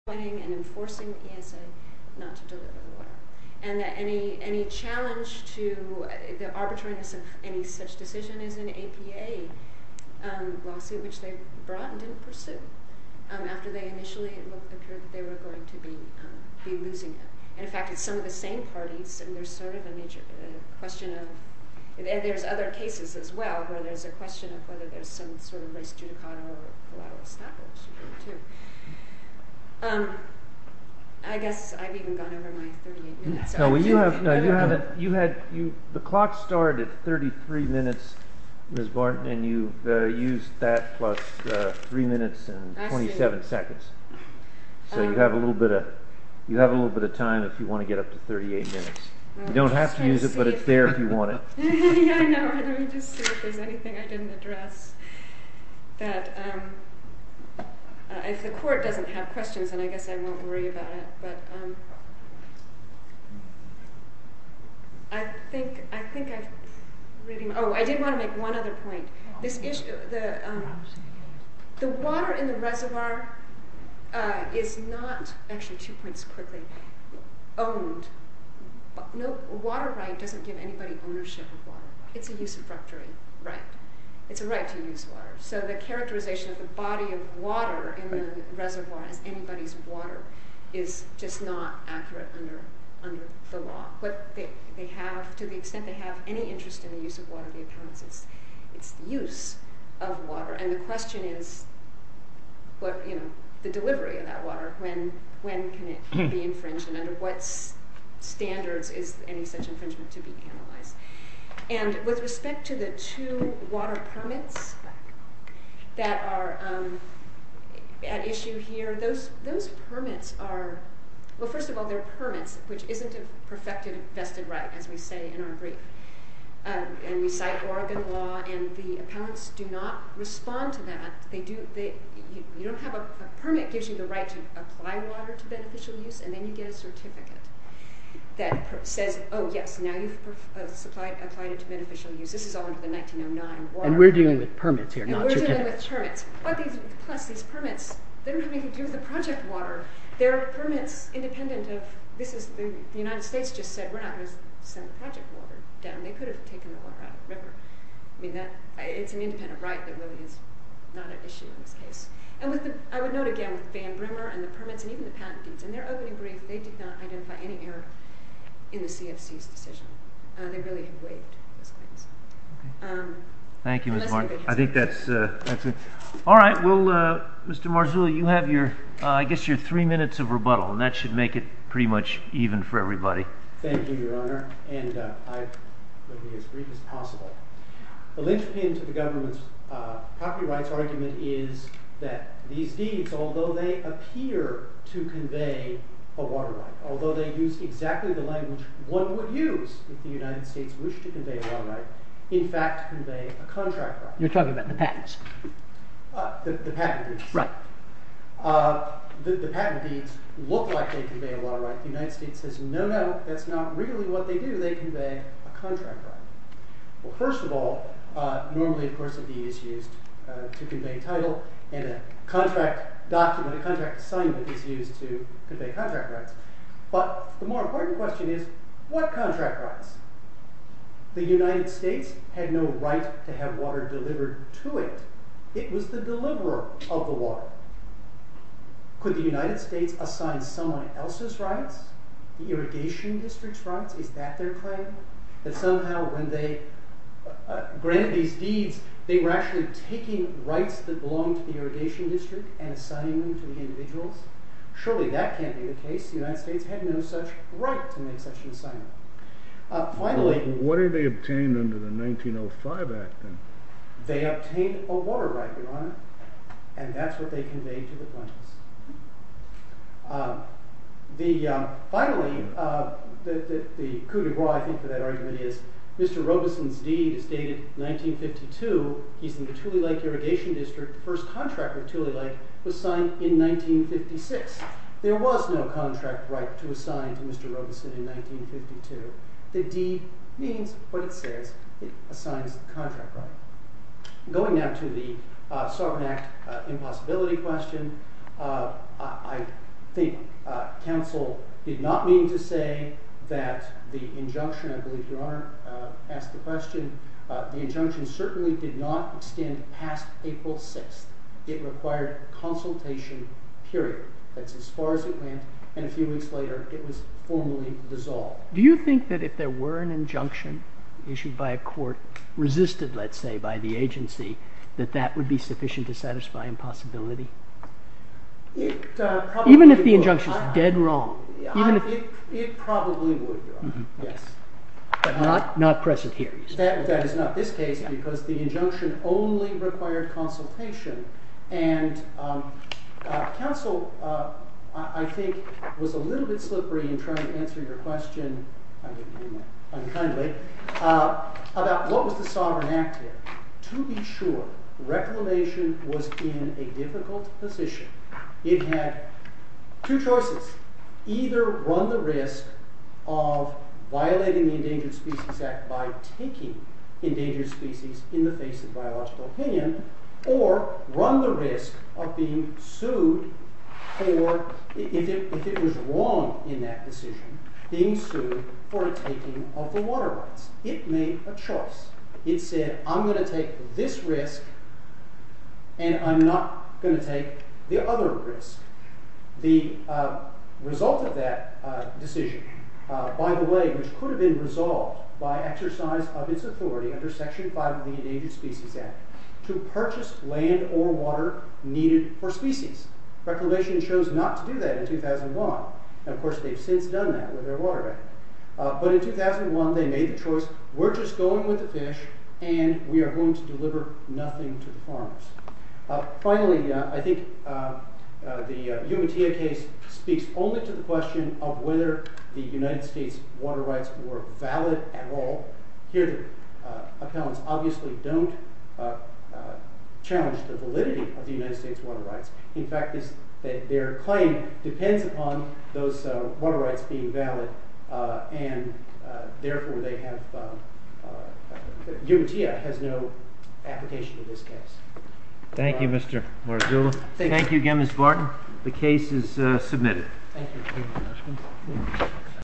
and enforcing the ESA not to deliver the water. And any challenge to the arbitrariness of any such decision is an APA lawsuit, which they brought and didn't pursue. After they initially looked, it appeared that they were going to be losing it. And in fact, it's some of the same parties, and there's sort of a major question of, and there's other cases as well, where there's a question of whether there's some sort of race judicata or collateral establishment too. I guess I've even gone over my 38 minutes. No, you haven't. You had, the clock started at 33 minutes, Ms. Barton, and you've used that plus three minutes and 27 seconds. So you have a little bit of time if you want to get up to 38 minutes. You don't have to use it, but it's there if you want it. Yeah, I know. Let me just see if there's anything I didn't address. That if the court doesn't have questions, and I guess I won't worry about it, but. I think I've, oh, I did want to make one other point. The water in the reservoir is not, actually, two points quickly, owned. No, water right doesn't give anybody ownership of water. It's a use of fructuary right. It's a right to use water. So the characterization of the body of water in the reservoir as anybody's water is just not accurate under the law. What they have, to the extent they have any interest in the use of water, it's the use of water. And the question is, the delivery of that water, when can it be infringed, and under what standards is any such infringement to be analyzed? And with respect to the two water permits that are at issue here, those permits are, well, first of all, they're permits, which isn't a perfected vested right, as we say in our brief. And we cite Oregon law, and the appellants do not respond to that. They do, you don't have a, a permit gives you the right to apply water to beneficial use, and then you get a certificate that says, oh, yes, now you've applied it to beneficial use. This is all under the 1909 water. And we're dealing with permits here, not certificates. And we're dealing with permits. But these, plus these permits, they don't have anything to do with the project water. They're permits independent of, this is, the United States just said, we're not gonna send the project water down. They could have taken the water out of the river. I mean, that, it's an independent right that really is not at issue in this case. And with the, I would note again, with Van Brimmer and the permits, and even the patent deeds, in their opening brief, they did not identify any error in the CFC's decision. They really have waived those claims. Okay. Thank you, Mr. Martin. I think that's it. All right, we'll, Mr. Marzulli, you have your, I guess your three minutes of rebuttal, and that should make it pretty much even for everybody. Thank you, Your Honor. And I will be as brief as possible. The linchpin to the government's property rights argument is that these deeds, although they appear to convey a water right, although they use exactly the language one would use if the United States wished to convey a water right, in fact, convey a contract right. You're talking about the patents. The patent deeds. Right. The patent deeds look like they convey a water right. The United States says, no, no, that's not really what they do. They convey a contract right. Well, first of all, normally, of course, a deed is used to convey title, and a contract document, a contract assignment is used to convey contract rights. But the more important question is, what contract rights? The United States had no right to have water delivered to it. It was the deliverer of the water. Could the United States assign someone else's rights, the Irrigation District's rights? Is that their claim? That somehow when they granted these deeds, they were actually taking rights that belonged to the Irrigation District and assigning them to the individuals? Surely that can't be the case. The United States had no such right to make such an assignment. Finally- What did they obtain under the 1905 Act, then? They obtained a water right, Your Honor, and that's what they conveyed to the plaintiffs. Finally, the coup de grace, I think, for that argument is, Mr. Robeson's deed is dated 1952. He's in the Tule Lake Irrigation District. The first contract with Tule Lake was signed in 1956. There was no contract right to assign to Mr. Robeson in 1952. The deed means what it says. It assigns the contract right. Going now to the Sovereign Act impossibility question, I think counsel did not mean to say that the injunction, I believe, Your Honor, asked the question, the injunction certainly did not extend past April 6th. It required consultation, period. That's as far as it went, and a few weeks later, it was formally dissolved. Do you think that if there were an injunction issued by a court, resisted, let's say, by the agency, that that would be sufficient to satisfy impossibility? Even if the injunction's dead wrong, even if- It probably would, Your Honor, yes. But not present here, you say? That is not this case, because the injunction only required consultation, and counsel, I think, was a little bit slippery in trying to answer your question, I didn't mean that unkindly, about what was the Sovereign Act here. To be sure, reclamation was in a difficult position. It had two choices, either run the risk of violating the Endangered Species Act by taking endangered species in the face of biological opinion, or run the risk of being sued for, if it was wrong in that decision, being sued for taking of the water rights. It made a choice. It said, I'm gonna take this risk, and I'm not gonna take the other risk. The result of that decision, by the way, which could have been resolved by exercise of its authority under Section 5 of the Endangered Species Act, to purchase land or water needed for species. Reclamation chose not to do that in 2001. And of course, they've since done that with their water act. But in 2001, they made the choice, we're just going with the fish, and we are going to deliver nothing to the farmers. Finally, I think the U.N.T.A. case speaks only to the question of whether the United States water rights were valid at all. Here, the appellants obviously don't challenge the validity of the United States water rights. In fact, their claim depends upon those water rights being valid, and therefore, they have, U.N.T.A. has no application in this case. Thank you, Mr. Marzullo. Thank you again, Ms. Barton. The case is submitted. Thank you.